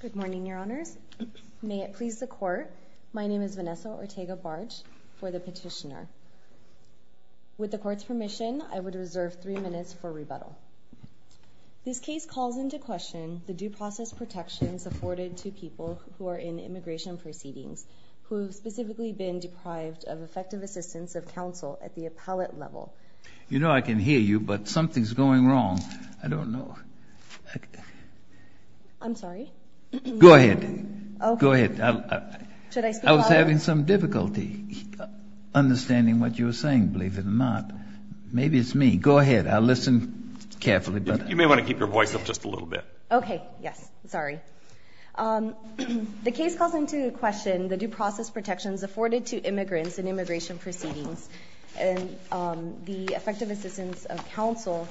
Good morning, Your Honors. May it please the Court, my name is Vanessa Ortega-Barge for the petitioner. With the Court's permission, I would reserve three minutes for rebuttal. This case calls into question the due process protections afforded to people who are in immigration proceedings, who have specifically been deprived of effective assistance of counsel at the appellate level. You know I can hear you, but something's going wrong. I don't know. I'm sorry? Go ahead. Go ahead. Should I speak louder? I was having some difficulty understanding what you were saying, believe it or not. Maybe it's me. Go ahead. I'll listen carefully. You may want to keep your voice up just a little bit. Okay. Yes. Sorry. The case calls into question the due process protections afforded to immigrants in immigration proceedings and the effective assistance of counsel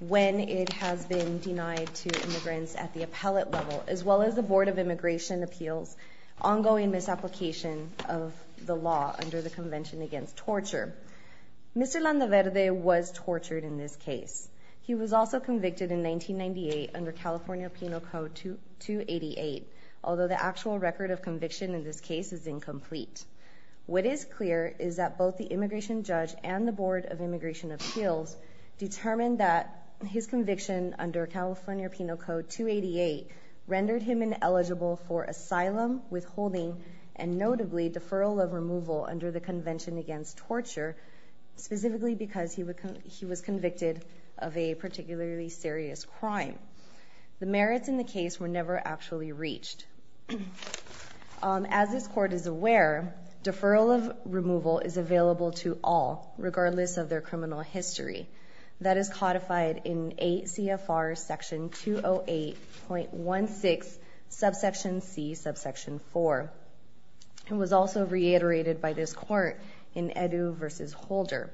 when it has been denied to immigrants at the appellate level, as well as the Board of Immigration Appeals' ongoing misapplication of the law under the Convention Against Torture. Mr. Landaverde was tortured in this case. He was also convicted in 1998 under California Penal Code 288, although the actual record of conviction in this case is incomplete. What is clear is that both the immigration judge and the Board of Immigration Appeals determined that his conviction under California Penal Code 288 rendered him ineligible for asylum, withholding, and notably deferral of removal under the Convention Against Torture, specifically because he was convicted of a particularly serious crime. The merits in the case were never actually reached. As this court is aware, deferral of removal is available to all, regardless of their criminal history. That is codified in ACFR Section 208.16, Subsection C, Subsection 4. It was also reiterated by this court in Edu v. Holder.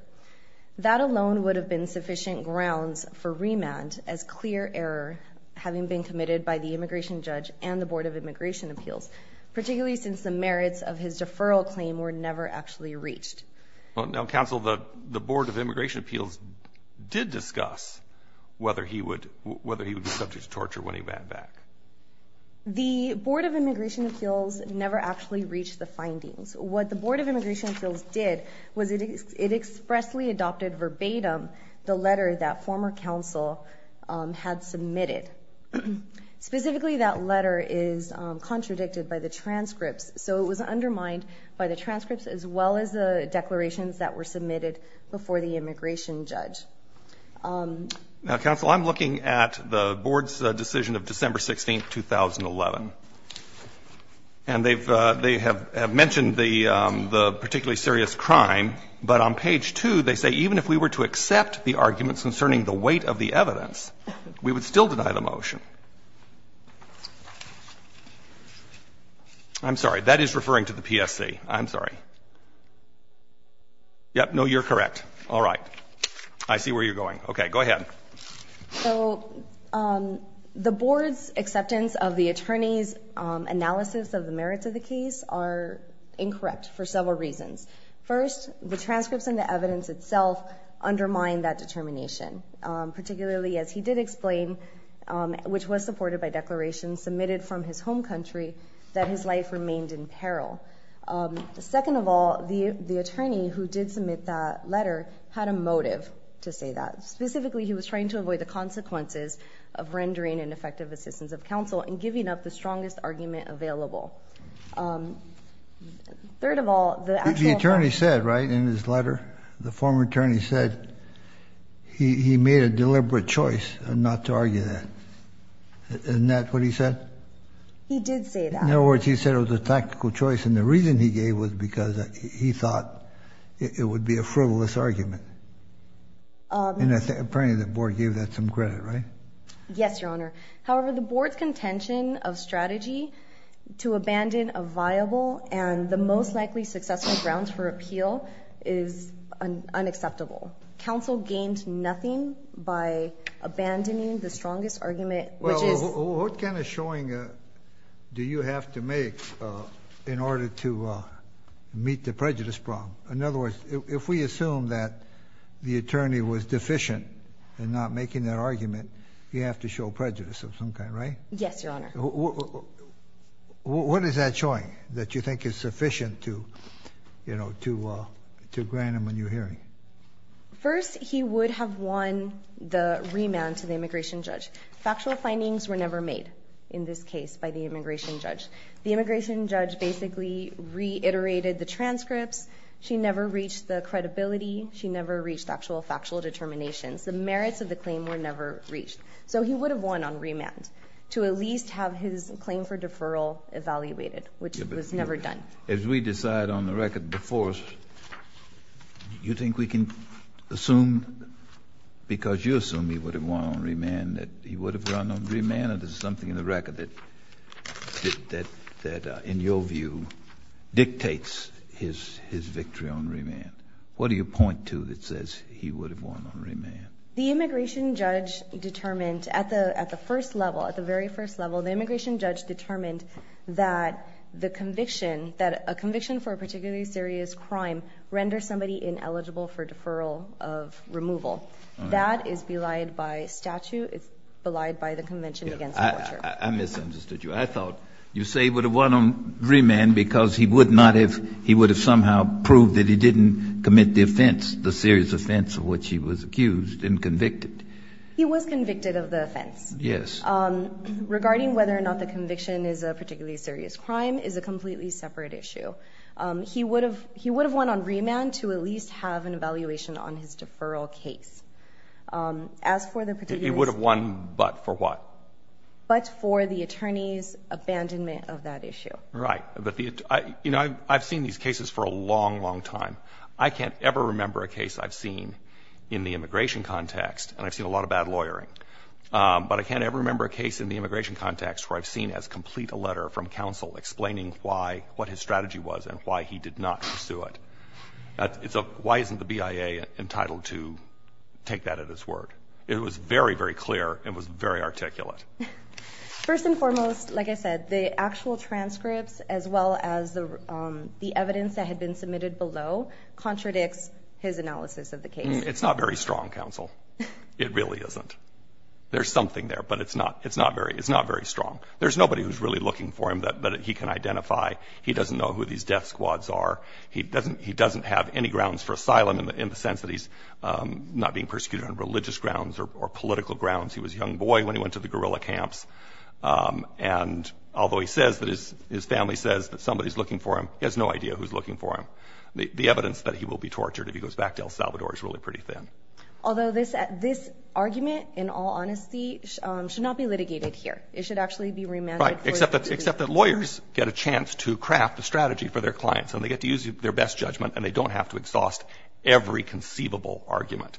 That alone would have been sufficient grounds for remand as clear error, having been committed by the immigration judge and the Board of Immigration Appeals, particularly since the merits of his deferral claim were never actually reached. Counsel, the Board of Immigration Appeals did discuss whether he would be subject to torture when he ran back. The Board of Immigration Appeals never actually reached the findings. What the Board of Immigration Appeals did was it expressly adopted verbatim the letter that former counsel had submitted. Specifically, that letter is contradicted by the transcripts, so it was undermined by the transcripts as well as the declarations that were submitted before the immigration judge. Now, counsel, I'm looking at the Board's decision of December 16, 2011, and they have mentioned the particularly serious crime, but on page 2, they say even if we were to accept the arguments concerning the weight of the evidence, we would still deny the motion. I'm sorry. That is referring to the PSC. I'm sorry. Yes. No, you're correct. All right. I see where you're going. Okay. Go ahead. So the Board's acceptance of the attorney's analysis of the merits of the case are incorrect for several reasons. First, the transcripts and the evidence itself undermine that determination, particularly as he did explain, which was supported by declarations submitted from his home country, that his life remained in peril. Second of all, the attorney who did submit that letter had a motive to say that. Specifically, he was trying to avoid the consequences of rendering ineffective assistance of counsel and giving up the strongest argument available. Third of all, the actual ---- The attorney said, right, in his letter, the former attorney said he made a deliberate choice not to argue that. Isn't that what he said? He did say that. In other words, he said it was a tactical choice, and the reason he gave was because he thought it would be a frivolous argument. And apparently the Board gave that some credit, right? Yes, Your Honor. However, the Board's contention of strategy to abandon a viable and the most likely successful grounds for appeal is unacceptable. Counsel gained nothing by abandoning the strongest argument, which is ---- Well, what kind of showing do you have to make in order to meet the prejudice problem? In other words, if we assume that the attorney was deficient in not making that argument, you have to show prejudice of some kind, right? Yes, Your Honor. What is that showing that you think is sufficient to grant him a new hearing? First, he would have won the remand to the immigration judge. Factual findings were never made in this case by the immigration judge. The immigration judge basically reiterated the transcripts. She never reached the credibility. She never reached actual factual determinations. The merits of the claim were never reached. So he would have won on remand to at least have his claim for deferral evaluated, which was never done. As we decide on the record before us, you think we can assume, because you assume he would have won on remand, that he would have run on remand, or there's something in the record that in your view dictates his victory on remand? What do you point to that says he would have won on remand? The immigration judge determined at the first level, at the very first level, the immigration judge determined that the conviction, that a conviction for a particularly serious crime renders somebody ineligible for deferral of removal. That is belied by statute. It's belied by the Convention Against Torture. I misunderstood you. I thought you say he would have won on remand because he would not have, he would have somehow proved that he didn't commit the offense, the serious offense of which he was accused and convicted. He was convicted of the offense. Yes. Regarding whether or not the conviction is a particularly serious crime is a completely separate issue. He would have won on remand to at least have an evaluation on his deferral case. As for the particular state. He would have won but for what? But for the attorney's abandonment of that issue. Right. You know, I've seen these cases for a long, long time. I can't ever remember a case I've seen in the immigration context, and I've seen a lot of bad lawyering, but I can't ever remember a case in the immigration context where I've seen as complete a letter from counsel explaining why, what his strategy was and why he did not pursue it. Why isn't the BIA entitled to take that at its word? It was very, very clear and was very articulate. First and foremost, like I said, the actual transcripts as well as the evidence that had been submitted below contradicts his analysis of the case. It's not very strong, counsel. It really isn't. There's something there, but it's not very strong. There's nobody who's really looking for him that he can identify. He doesn't know who these death squads are. He doesn't have any grounds for asylum in the sense that he's not being persecuted on religious grounds or political grounds. He was a young boy when he went to the guerrilla camps, and although he says that his family says that somebody's looking for him, he has no idea who's looking for him. The evidence that he will be tortured if he goes back to El Salvador is really pretty thin. Although this argument, in all honesty, should not be litigated here. It should actually be remanded. Right, except that lawyers get a chance to craft a strategy for their clients, and they get to use their best judgment, and they don't have to exhaust every conceivable argument.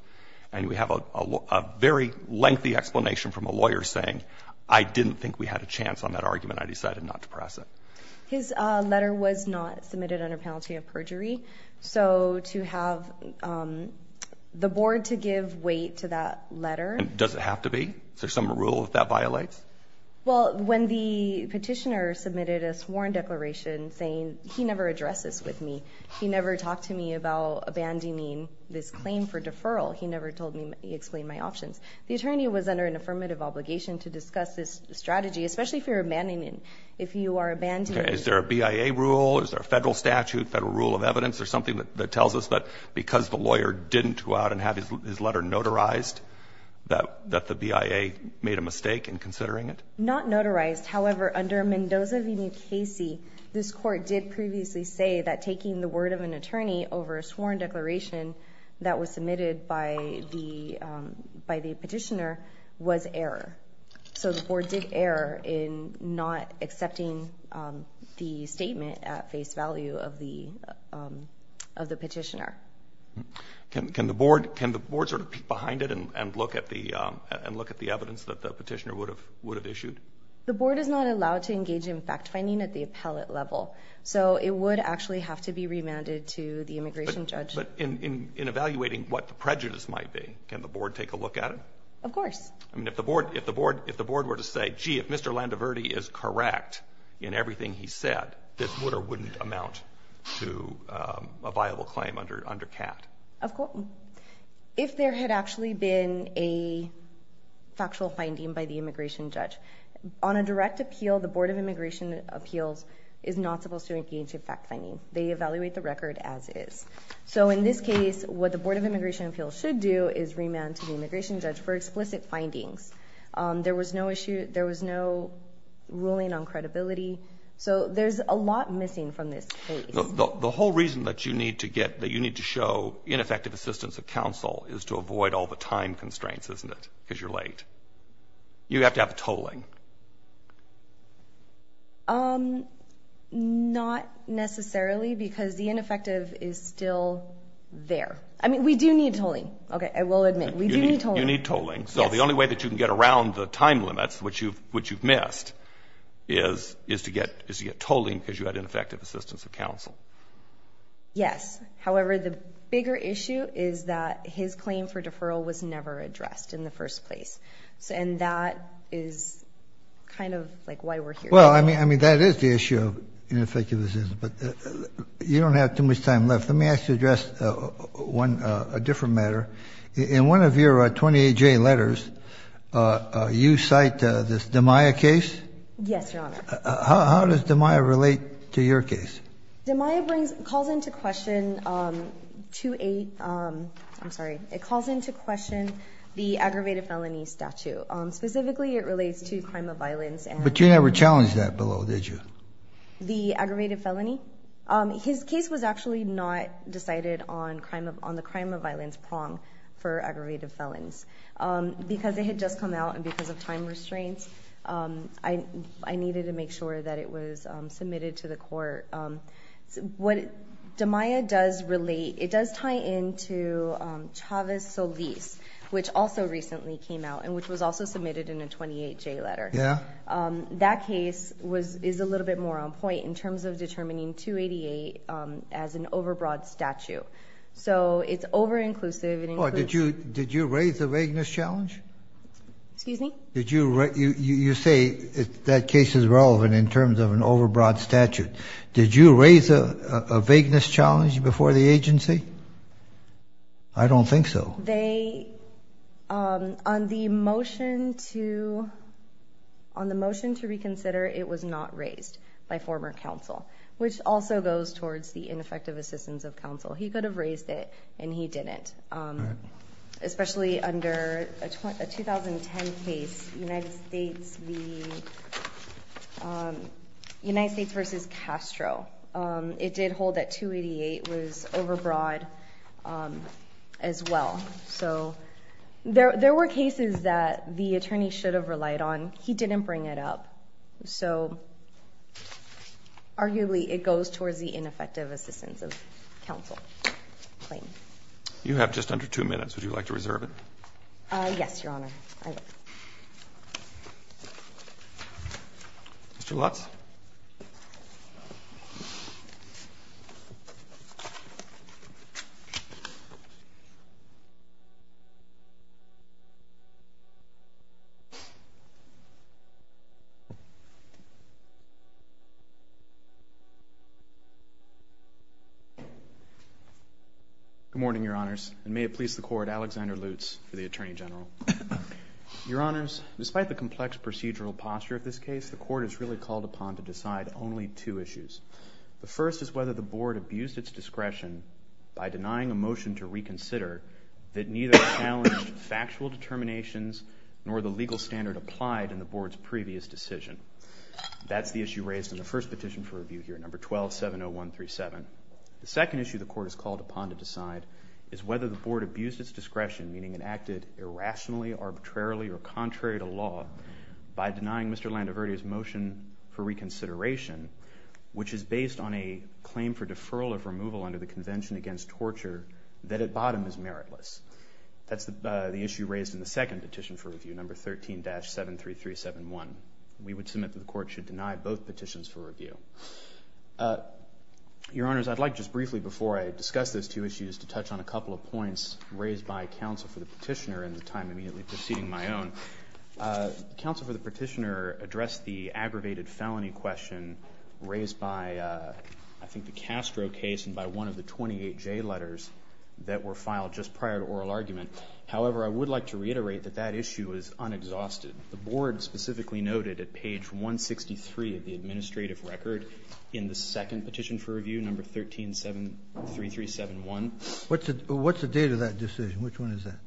And we have a very lengthy explanation from a lawyer saying, I didn't think we had a chance on that argument. I decided not to press it. His letter was not submitted under penalty of perjury. So to have the board to give weight to that letter. Does it have to be? Is there some rule that that violates? Well, when the petitioner submitted a sworn declaration saying he never addresses with me, he never talked to me about abandoning this claim for deferral. He never told me, he explained my options. The attorney was under an affirmative obligation to discuss this strategy, especially if you're abandoning, if you are abandoning. Is there a BIA rule? Is there a federal statute, federal rule of evidence, or something that tells us that because the lawyer didn't go out and have his letter notarized, that the BIA made a mistake in considering it? Not notarized. However, under Mendoza v. New Casey, this court did previously say that taking the word of an attorney over a sworn declaration that was submitted by the petitioner was error. So the board did error in not accepting the statement at face value of the petitioner. Can the board sort of peek behind it and look at the evidence that the petitioner would have issued? The board is not allowed to engage in fact-finding at the appellate level. So it would actually have to be remanded to the immigration judge. But in evaluating what the prejudice might be, can the board take a look at it? Of course. I mean, if the board were to say, gee, if Mr. Landoverdi is correct in everything he said, this would or wouldn't amount to a viable claim under CAT. Of course. If there had actually been a factual finding by the immigration judge. On a direct appeal, the Board of Immigration Appeals is not supposed to engage in fact-finding. They evaluate the record as is. So in this case, what the Board of Immigration Appeals should do is remand to the immigration judge for explicit findings. There was no ruling on credibility. So there's a lot missing from this case. The whole reason that you need to show ineffective assistance of counsel is to avoid all the time constraints, isn't it? Because you're late. You have to have tolling. Not necessarily, because the ineffective is still there. I mean, we do need tolling. Okay, I will admit. We do need tolling. You need tolling. So the only way that you can get around the time limits, which you've missed, is to get Yes. However, the bigger issue is that his claim for deferral was never addressed in the first place. And that is kind of like why we're here. Well, I mean, that is the issue of ineffective assistance. But you don't have too much time left. Let me ask you to address a different matter. In one of your 28-J letters, you cite this Damiah case. Yes, Your Honor. How does Damiah relate to your case? Damiah calls into question the aggravated felony statute. Specifically, it relates to crime of violence. But you never challenged that below, did you? The aggravated felony? His case was actually not decided on the crime of violence prong for aggravated felons. Because it had just come out and because of time restraints, I needed to make it to the court. What Damiah does relate, it does tie into Chavez Solis, which also recently came out and which was also submitted in a 28-J letter. Yeah. That case is a little bit more on point in terms of determining 288 as an overbroad statute. So it's over-inclusive. Did you raise the vagueness challenge? Excuse me? You say that case is relevant in terms of an overbroad statute. Did you raise a vagueness challenge before the agency? I don't think so. They, on the motion to reconsider, it was not raised by former counsel, which also goes towards the ineffective assistance of counsel. He could have raised it, and he didn't. Especially under a 2010 case, United States v. Castro. It did hold that 288 was overbroad as well. So there were cases that the attorney should have relied on. He didn't bring it up. So arguably, it goes towards the ineffective assistance of counsel claim. You have just under two minutes. Would you like to reserve it? Yes, Your Honor. Mr. Lutz? Good morning, Your Honors, and may it please the Court, Alexander Lutz for the Attorney General. Your Honors, despite the complex procedural posture of this case, the Court is really called upon to decide only two issues. The first is whether the Board abused its discretion by denying a motion to reconsider that neither challenged factual determinations nor the legal standard applied in the Board's previous decision. That's the issue raised in the first petition for review here, No. 1270137. The second issue the Court is called upon to decide is whether the Board abused its discretion, meaning it acted irrationally, arbitrarily, or contrary to law by denying Mr. Landoverdi's motion for reconsideration, which is based on a claim for deferral of removal under the Convention Against Torture that at bottom is meritless. That's the issue raised in the second petition for review, No. 13-73371. Your Honors, I'd like just briefly before I discuss these two issues to touch on a couple of points raised by counsel for the petitioner in the time immediately preceding my own. Counsel for the petitioner addressed the aggravated felony question raised by, I think, the Castro case and by one of the 28 J letters that were filed just prior to oral argument. However, I would like to reiterate that that issue is unexhausted. The Board specifically noted at page 163 of the administrative record in the second petition for review, No. 13-73371. What's the date of that decision? Which one is that?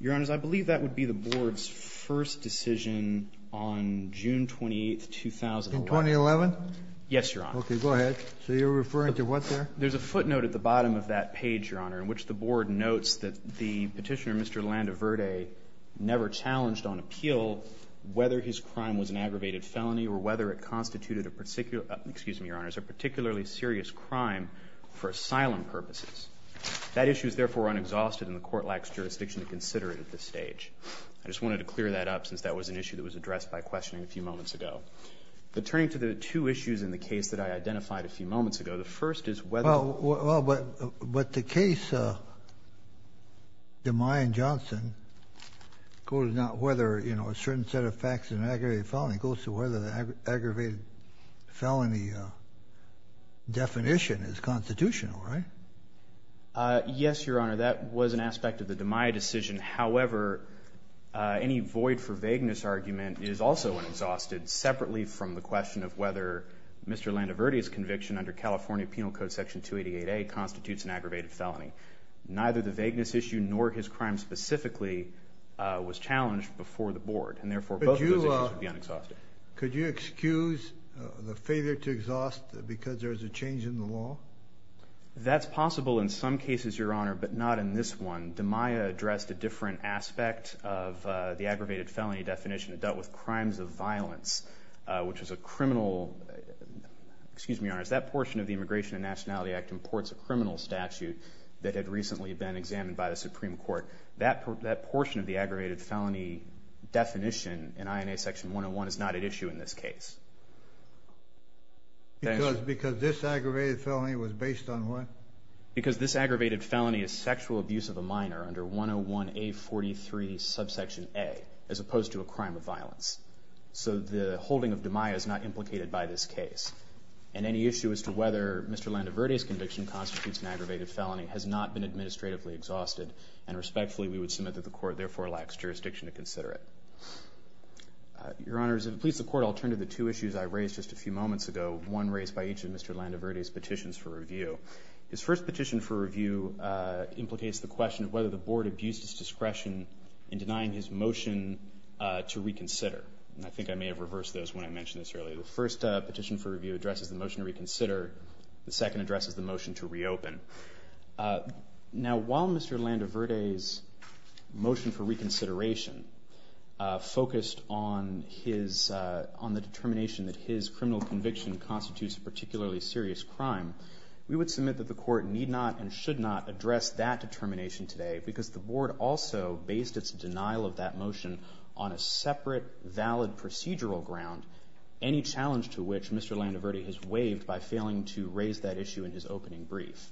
Your Honors, I believe that would be the Board's first decision on June 28, 2011. In 2011? Yes, Your Honor. Okay, go ahead. So you're referring to what there? There's a footnote at the bottom of that page, Your Honor, in which the Board notes that the petitioner, Mr. Landaverde, never challenged on appeal whether his crime was an aggravated felony or whether it constituted a particular, excuse me, Your Honors, a particularly serious crime for asylum purposes. That issue is, therefore, unexhausted, and the Court lacks jurisdiction to consider it at this stage. I just wanted to clear that up since that was an issue that was addressed by questioning a few moments ago. But turning to the two issues in the case that I identified a few moments ago, the first is whether Well, but the case, Demey and Johnson, goes not whether a certain set of facts is an aggravated felony, it goes to whether the aggravated felony definition is constitutional, right? Yes, Your Honor. That was an aspect of the Demey decision. However, any void for vagueness argument is also unexhausted, separately from the question of whether Mr. Landaverde's conviction under California Penal Code Section 288A constitutes an aggravated felony. Neither the vagueness issue nor his crime specifically was challenged before the Board, and, therefore, both of those issues would be unexhausted. Could you excuse the failure to exhaust because there is a change in the law? That's possible in some cases, Your Honor, but not in this one. Demey addressed a different aspect of the aggravated felony definition. It dealt with crimes of violence, which was a criminal, excuse me, Your Honor, that portion of the Immigration and Nationality Act imports a criminal statute that had recently been examined by the Supreme Court. That portion of the aggravated felony definition in INA Section 101 is not at issue in this case. Because this aggravated felony was based on what? Because this aggravated felony is sexual abuse of a minor So the holding of demey is not implicated by this case. And any issue as to whether Mr. Landaverde's conviction constitutes an aggravated felony has not been administratively exhausted, and, respectfully, we would submit that the Court, therefore, lacks jurisdiction to consider it. Your Honors, if it pleases the Court, I'll turn to the two issues I raised just a few moments ago, one raised by each of Mr. Landaverde's petitions for review. His first petition for review implicates the question of whether the Board abused its discretion in denying his motion to reconsider. And I think I may have reversed those when I mentioned this earlier. The first petition for review addresses the motion to reconsider. The second addresses the motion to reopen. Now, while Mr. Landaverde's motion for reconsideration focused on the determination that his criminal conviction constitutes a particularly serious crime, we would submit that the Court need not and should not address that determination today because the Board also based its denial of that motion on a separate, valid procedural ground, any challenge to which Mr. Landaverde has waived by failing to raise that issue in his opening brief.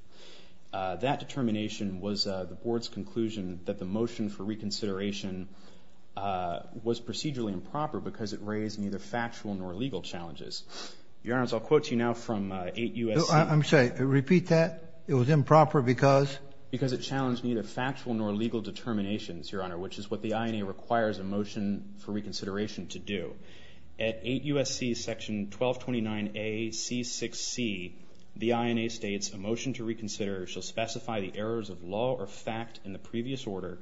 That determination was the Board's conclusion that the motion for reconsideration was procedurally improper because it raised neither factual nor legal challenges. Your Honor, I'll quote you now from 8 U.S.C. I'm sorry, repeat that? It was improper because? Because it challenged neither factual nor legal determinations, Your Honor, which is what the INA requires a motion for reconsideration to do. At 8 U.S.C. section 1229A.C.6.C., the INA states, a motion to reconsider shall specify the errors of law or fact in the previous order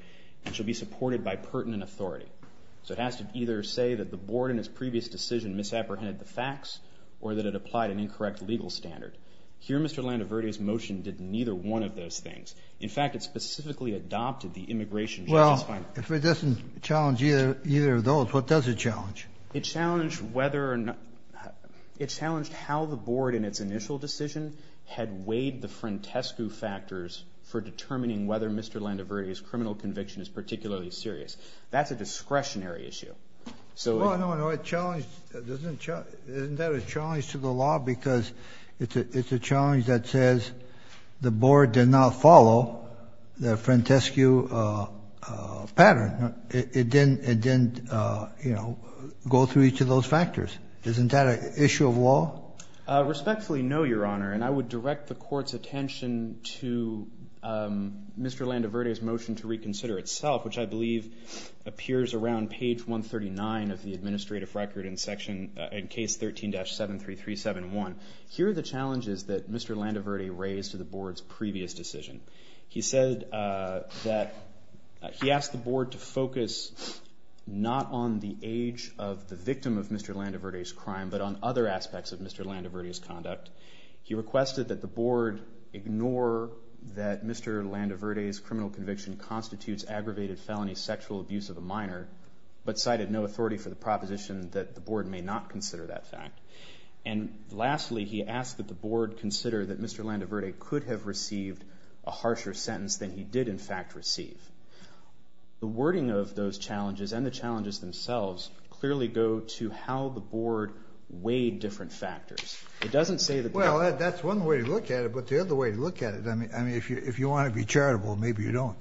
and shall be supported by pertinent authority. So it has to either say that the Board in its previous decision misapprehended the facts or that it applied an incorrect legal standard. Here, Mr. Landaverde's motion did neither one of those things. In fact, it specifically adopted the immigration judgment. Well, if it doesn't challenge either of those, what does it challenge? It challenged whether or not, it challenged how the Board in its initial decision had waived the frantescu factors for determining whether Mr. Landaverde's criminal conviction is particularly serious. That's a discretionary issue. Well, no, no, it challenged, isn't that a challenge to the law? Because it's a challenge that says the Board did not follow the frantescu pattern. It didn't, you know, go through each of those factors. Isn't that an issue of law? Respectfully, no, Your Honor. And I would direct the Court's attention to Mr. Landaverde's motion to reconsider itself, which I believe appears around page 139 of the administrative record in case 13-73371. Here are the challenges that Mr. Landaverde raised to the Board's previous decision. He said that he asked the Board to focus not on the age of the victim of Mr. Landaverde's crime, but on other aspects of Mr. Landaverde's conduct. He requested that the Board ignore that Mr. Landaverde's criminal conviction constitutes aggravated felony sexual abuse of a minor, but cited no authority for the proposition that the Board may not consider that fact. And lastly, he asked that the Board consider that Mr. Landaverde could have received a harsher sentence than he did, in fact, receive. The wording of those challenges and the challenges themselves clearly go to how the Board weighed different factors. Well, that's one way to look at it. But the other way to look at it, I mean, if you want to be charitable, maybe you don't.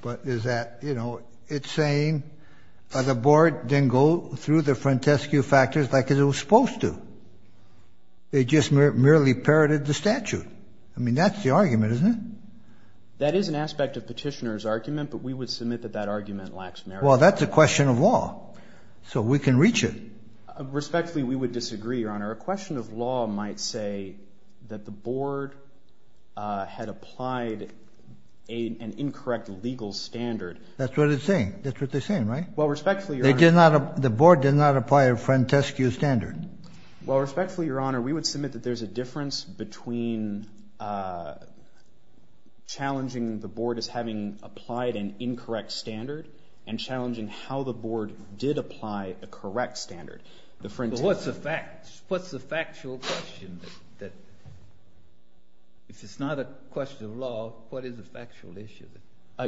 But is that, you know, it's saying the Board didn't go through the frontescue factors like it was supposed to. It just merely parroted the statute. I mean, that's the argument, isn't it? That is an aspect of Petitioner's argument, but we would submit that that argument lacks merit. Well, that's a question of law. Respectfully, we would disagree, Your Honor. A question of law might say that the Board had applied an incorrect legal standard. That's what it's saying. That's what they're saying, right? Well, respectfully, Your Honor. The Board did not apply a frontescue standard. Well, respectfully, Your Honor, we would submit that there's a difference between challenging the Board as having applied an incorrect standard and challenging how the Board did apply a correct standard. Well, what's the factual question? If it's not a question of law, what is the factual issue?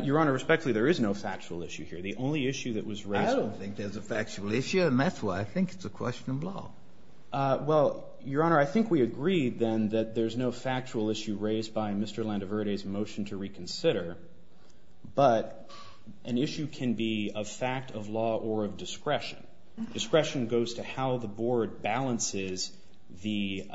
Your Honor, respectfully, there is no factual issue here. The only issue that was raised— I don't think there's a factual issue, and that's why I think it's a question of law. Well, Your Honor, I think we agreed, then, that there's no factual issue raised by Mr. Landeverde's motion to reconsider. But an issue can be a fact of law or of discretion. Discretion goes to how the Board balances the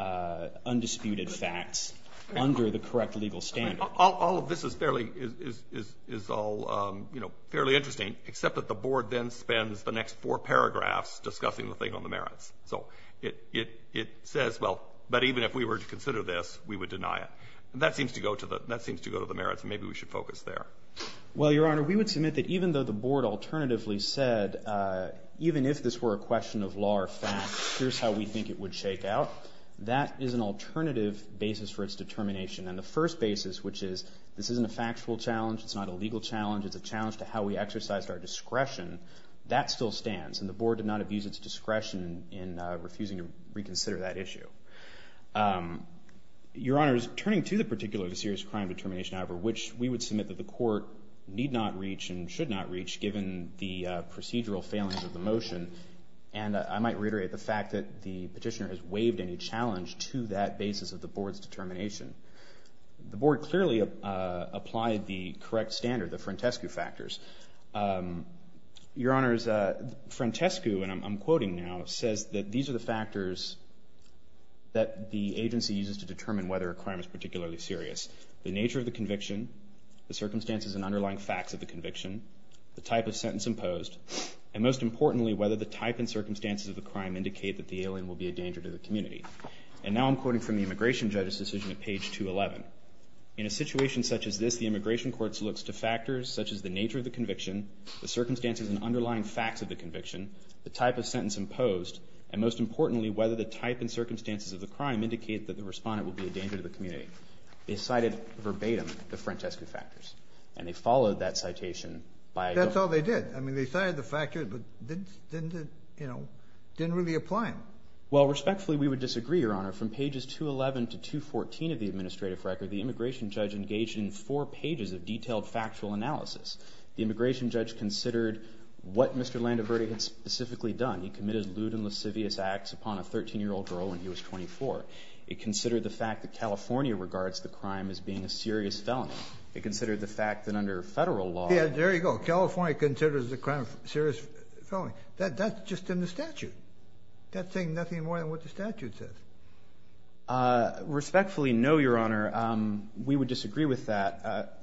undisputed facts under the correct legal standard. All of this is all fairly interesting, except that the Board then spends the next four paragraphs discussing the thing on the merits. So it says, well, but even if we were to consider this, we would deny it. That seems to go to the merits, and maybe we should focus there. Well, Your Honor, we would submit that even though the Board alternatively said, even if this were a question of law or facts, here's how we think it would shake out, that is an alternative basis for its determination. And the first basis, which is, this isn't a factual challenge, it's not a legal challenge, it's a challenge to how we exercised our discretion, that still stands. And the Board did not abuse its discretion in refusing to reconsider that issue. Your Honor, turning to the particular serious crime determination, however, which we would submit that the Court need not reach and should not reach, given the procedural failings of the motion, and I might reiterate the fact that the petitioner has waived any challenge to that basis of the Board's determination. The Board clearly applied the correct standard, the Frantescu factors. Your Honors, Frantescu, and I'm quoting now, says that these are the factors that the agency uses to determine whether a crime is particularly serious. The nature of the conviction, the circumstances and underlying facts of the conviction, the type of sentence imposed, and most importantly, whether the type and circumstances of the crime indicate that the alien will be a danger to the community. And now I'm quoting from the immigration judge's decision at page 211. In a situation such as this, the immigration court looks to factors such as the nature of the conviction, the circumstances and underlying facts of the conviction, the type of sentence imposed, and most importantly, whether the type and circumstances of the crime indicate that the respondent will be a danger to the community. They cited verbatim the Frantescu factors, and they followed that citation by... That's all they did. I mean, they cited the factors, but didn't really apply them. Well, respectfully, we would disagree, Your Honor. From pages 211 to 214 of the administrative record, the immigration judge engaged in four pages of detailed factual analysis. The immigration judge considered what Mr. Landoverdi had specifically done. He committed lewd and lascivious acts upon a 13-year-old girl when he was 24. It considered the fact that California regards the crime as being a serious felony. It considered the fact that under federal law... Yeah, there you go. California considers the crime a serious felony. That's just in the statute. That's saying nothing more than what the statute says. Respectfully, no, Your Honor. We would disagree with that.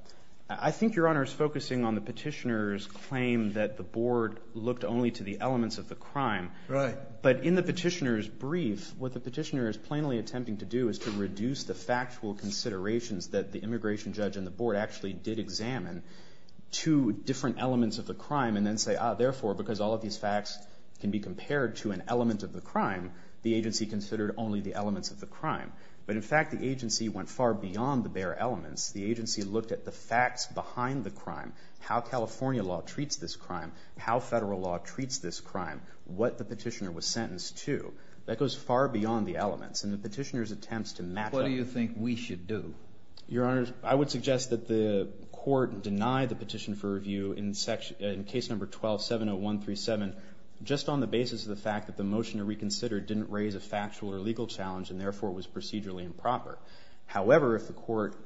I think Your Honor is focusing on the petitioner's claim that the board looked only to the elements of the crime. Right. But in the petitioner's brief, what the petitioner is plainly attempting to do is to reduce the factual considerations that the immigration judge and the board actually did examine to different elements of the crime and then say, ah, therefore, because all of these facts can be compared to an element of the crime, the agency considered only the elements of the crime. But, in fact, the agency went far beyond the bare elements. The agency looked at the facts behind the crime, how California law treats this crime, how federal law treats this crime, what the petitioner was sentenced to. That goes far beyond the elements. And the petitioner's attempts to match up... What do you think we should do? Your Honor, I would suggest that the court deny the petition for review in case number 12-70137 just on the basis of the fact that the motion to reconsider didn't raise a factual or legal challenge and, therefore, was procedurally improper. However, if the court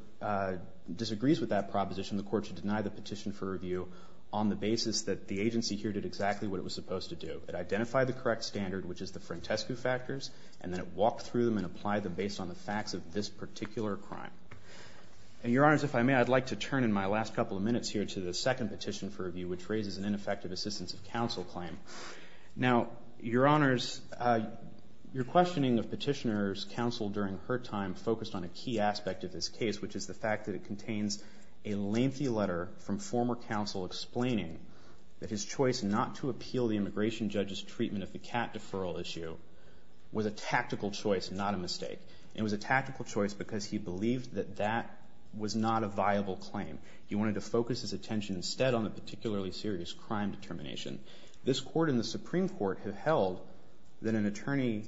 disagrees with that proposition, the court should deny the petition for review on the basis that the agency here did exactly what it was supposed to do. It identified the correct standard, which is the Frantescu factors, and then it walked through them and applied them based on the facts of this particular crime. And, Your Honors, if I may, I'd like to turn in my last couple of minutes here to the second petition for review, which raises an ineffective assistance of counsel claim. Now, Your Honors, your questioning of petitioner's counsel during her time focused on a key aspect of this case, which is the fact that it contains a lengthy letter from former counsel explaining that his choice not to appeal the immigration judge's treatment of the CAT deferral issue was a tactical choice, not a mistake. It was a tactical choice because he believed that that was not a viable claim. He wanted to focus his attention instead on the particularly serious crime determination. This Court and the Supreme Court have held that an attorney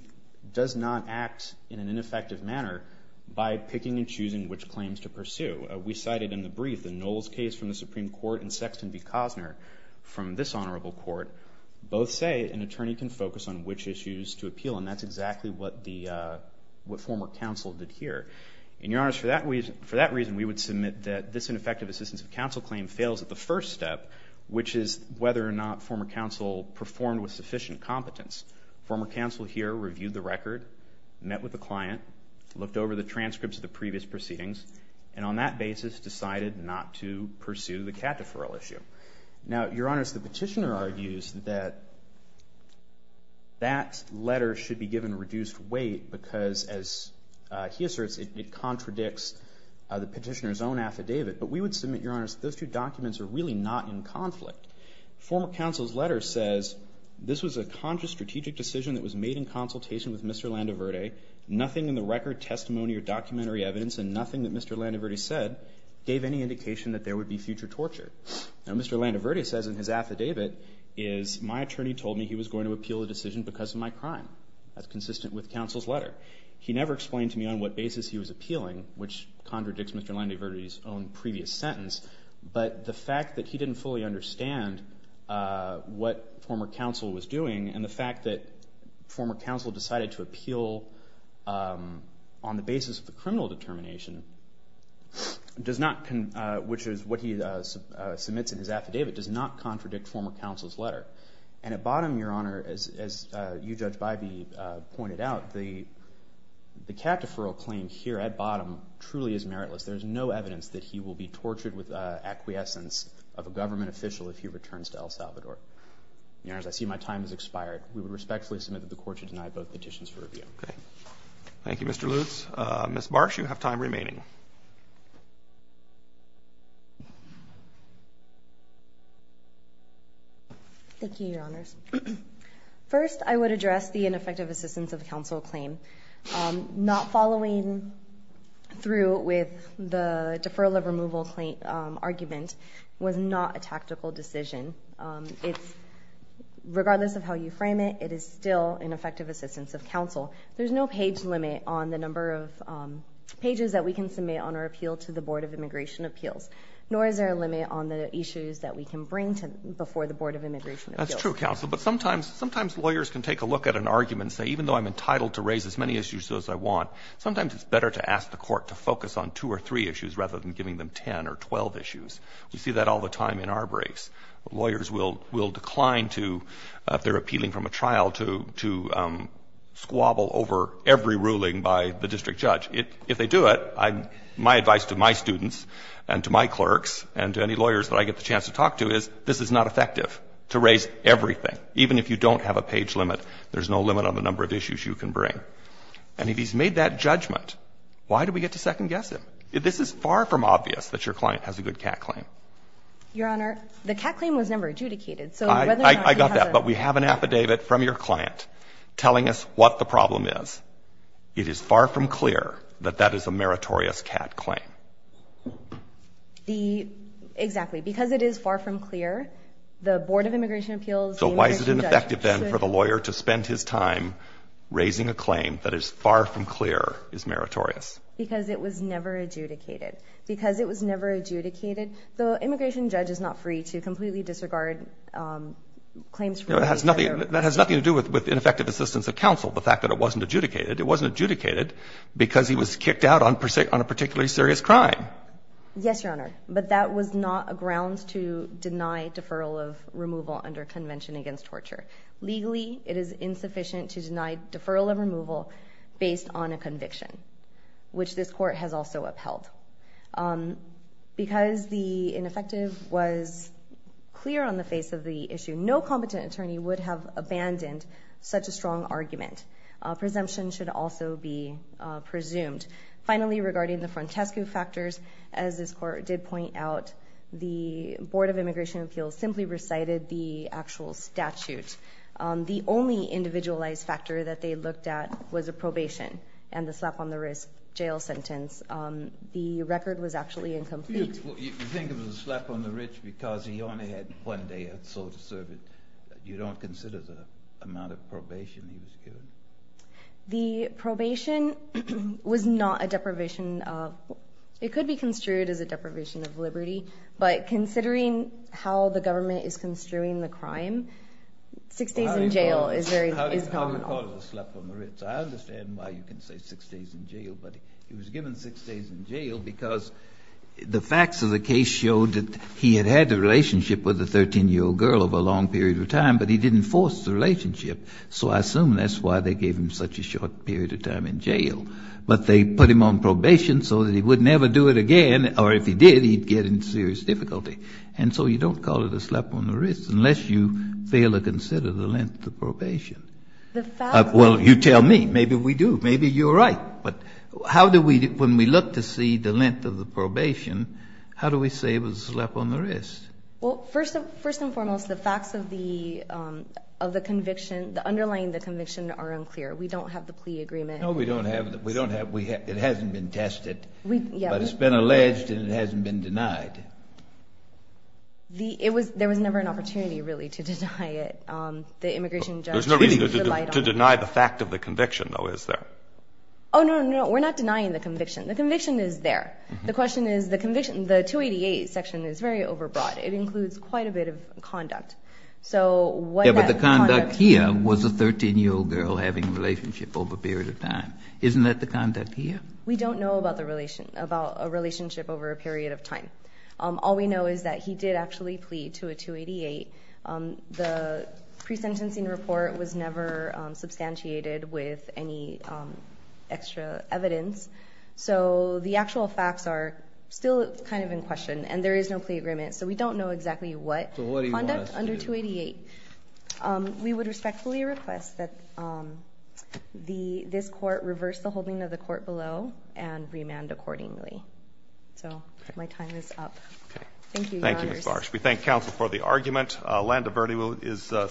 does not act in an ineffective manner by picking and choosing which claims to pursue. We cited in the brief the Knowles case from the Supreme Court and Sexton v. Cosner from this honorable court. Both say an attorney can focus on which issues to appeal, and that's exactly what former counsel did here. And, Your Honors, for that reason, we would submit that this ineffective assistance of counsel claim fails at the first step, which is whether or not former counsel performed with sufficient competence. Former counsel here reviewed the record, met with the client, looked over the transcripts of the previous proceedings, and on that basis decided not to pursue the CAT deferral issue. Now, Your Honors, the petitioner argues that that letter should be given reduced weight because, as he asserts, it contradicts the petitioner's own affidavit. But we would submit, Your Honors, those two documents are really not in conflict. Former counsel's letter says, This was a conscious strategic decision that was made in consultation with Mr. Landoverde. Nothing in the record, testimony, or documentary evidence, and nothing that Mr. Landoverde said, gave any indication that there would be future torture. Now, Mr. Landoverde says in his affidavit is, My attorney told me he was going to appeal the decision because of my crime. That's consistent with counsel's letter. He never explained to me on what basis he was appealing, which contradicts Mr. Landoverde's own previous sentence, but the fact that he didn't fully understand what former counsel was doing and the fact that former counsel decided to appeal on the basis of the criminal determination, which is what he submits in his affidavit, does not contradict former counsel's letter. And at bottom, Your Honor, as you, Judge Bybee, pointed out, the cat deferral claim here at bottom truly is meritless. There is no evidence that he will be tortured with acquiescence of a government official if he returns to El Salvador. Your Honors, I see my time has expired. We would respectfully submit that the Court should deny both petitions for review. Okay. Thank you, Mr. Lutz. Ms. Barsh, you have time remaining. Thank you, Your Honors. First, I would address the ineffective assistance of counsel claim. Not following through with the deferral of removal claim argument was not a tactical decision. Regardless of how you frame it, it is still ineffective assistance of counsel. There's no page limit on the number of pages that we can submit on our appeal to the Board of Immigration Appeals, nor is there a limit on the issues that we can bring before the Board of Immigration Appeals. That's true, counsel. But sometimes lawyers can take a look at an argument and say, even though I'm entitled to raise as many issues as I want, sometimes it's better to ask the Court to focus on two or three issues rather than giving them 10 or 12 issues. We see that all the time in our brace. Lawyers will decline to, if they're appealing from a trial, to squabble over every ruling by the district judge. If they do it, my advice to my students and to my clerks and to any lawyers that I get the chance to talk to is this is not effective to raise everything. Even if you don't have a page limit, there's no limit on the number of issues you can bring. And if he's made that judgment, why do we get to second-guess him? This is far from obvious that your client has a good cat claim. Your Honor, the cat claim was never adjudicated. I got that. But we have an affidavit from your client telling us what the problem is. It is far from clear that that is a meritorious cat claim. Exactly. Because it is far from clear, the Board of Immigration Appeals, the immigration judge. So why is it ineffective then for the lawyer to spend his time raising a claim that is far from clear is meritorious? Because it was never adjudicated. Because it was never adjudicated. The immigration judge is not free to completely disregard claims from other people. That has nothing to do with ineffective assistance of counsel, the fact that it wasn't adjudicated. It wasn't adjudicated because he was kicked out on a particularly serious crime. Yes, Your Honor. But that was not a ground to deny deferral of removal under Convention Against Torture. Legally, it is insufficient to deny deferral of removal based on a conviction, which this court has also upheld. Because the ineffective was clear on the face of the issue, no competent attorney would have abandoned such a strong argument. Presumption should also be presumed. Finally, regarding the frontescue factors, as this court did point out, the Board of Immigration Appeals simply recited the actual statute. The only individualized factor that they looked at was a probation and the slap on the wrist jail sentence. The record was actually incomplete. You think of the slap on the wrist because he only had one day or so to serve it. You don't consider the amount of probation he was given? The probation was not a deprivation of, it could be construed as a deprivation of liberty. But considering how the government is construing the crime, six days in jail is very common. How do you call it a slap on the wrist? I understand why you can say six days in jail. But he was given six days in jail because the facts of the case showed that he had had a relationship with a 13-year-old girl over a long period of time, but he didn't force the relationship. So I assume that's why they gave him such a short period of time in jail. But they put him on probation so that he would never do it again, or if he did, he'd get into serious difficulty. And so you don't call it a slap on the wrist unless you fail to consider the length of probation. Well, you tell me. Maybe we do. Maybe you're right. But how do we, when we look to see the length of the probation, how do we say it was a slap on the wrist? Well, first and foremost, the facts of the conviction, the underlying of the conviction are unclear. We don't have the plea agreement. No, we don't have it. It hasn't been tested. But it's been alleged and it hasn't been denied. There was never an opportunity, really, to deny it. There's no reason to deny the fact of the conviction, though, is there? Oh, no, no, no. We're not denying the conviction. The conviction is there. The question is the conviction. The 288 section is very overbroad. It includes quite a bit of conduct. Yeah, but the conduct here was a 13-year-old girl having a relationship over a period of time. We don't know about a relationship over a period of time. All we know is that he did actually plead to a 288. The pre-sentencing report was never substantiated with any extra evidence. So the actual facts are still kind of in question, and there is no plea agreement. So we don't know exactly what conduct under 288. So what do you want us to do? We would respectfully request that this court reverse the holding of the court below and remand accordingly. So my time is up. Okay. Thank you, Your Honors. Thank you, Ms. Barsh. We thank counsel for the argument. Landa Verde is second.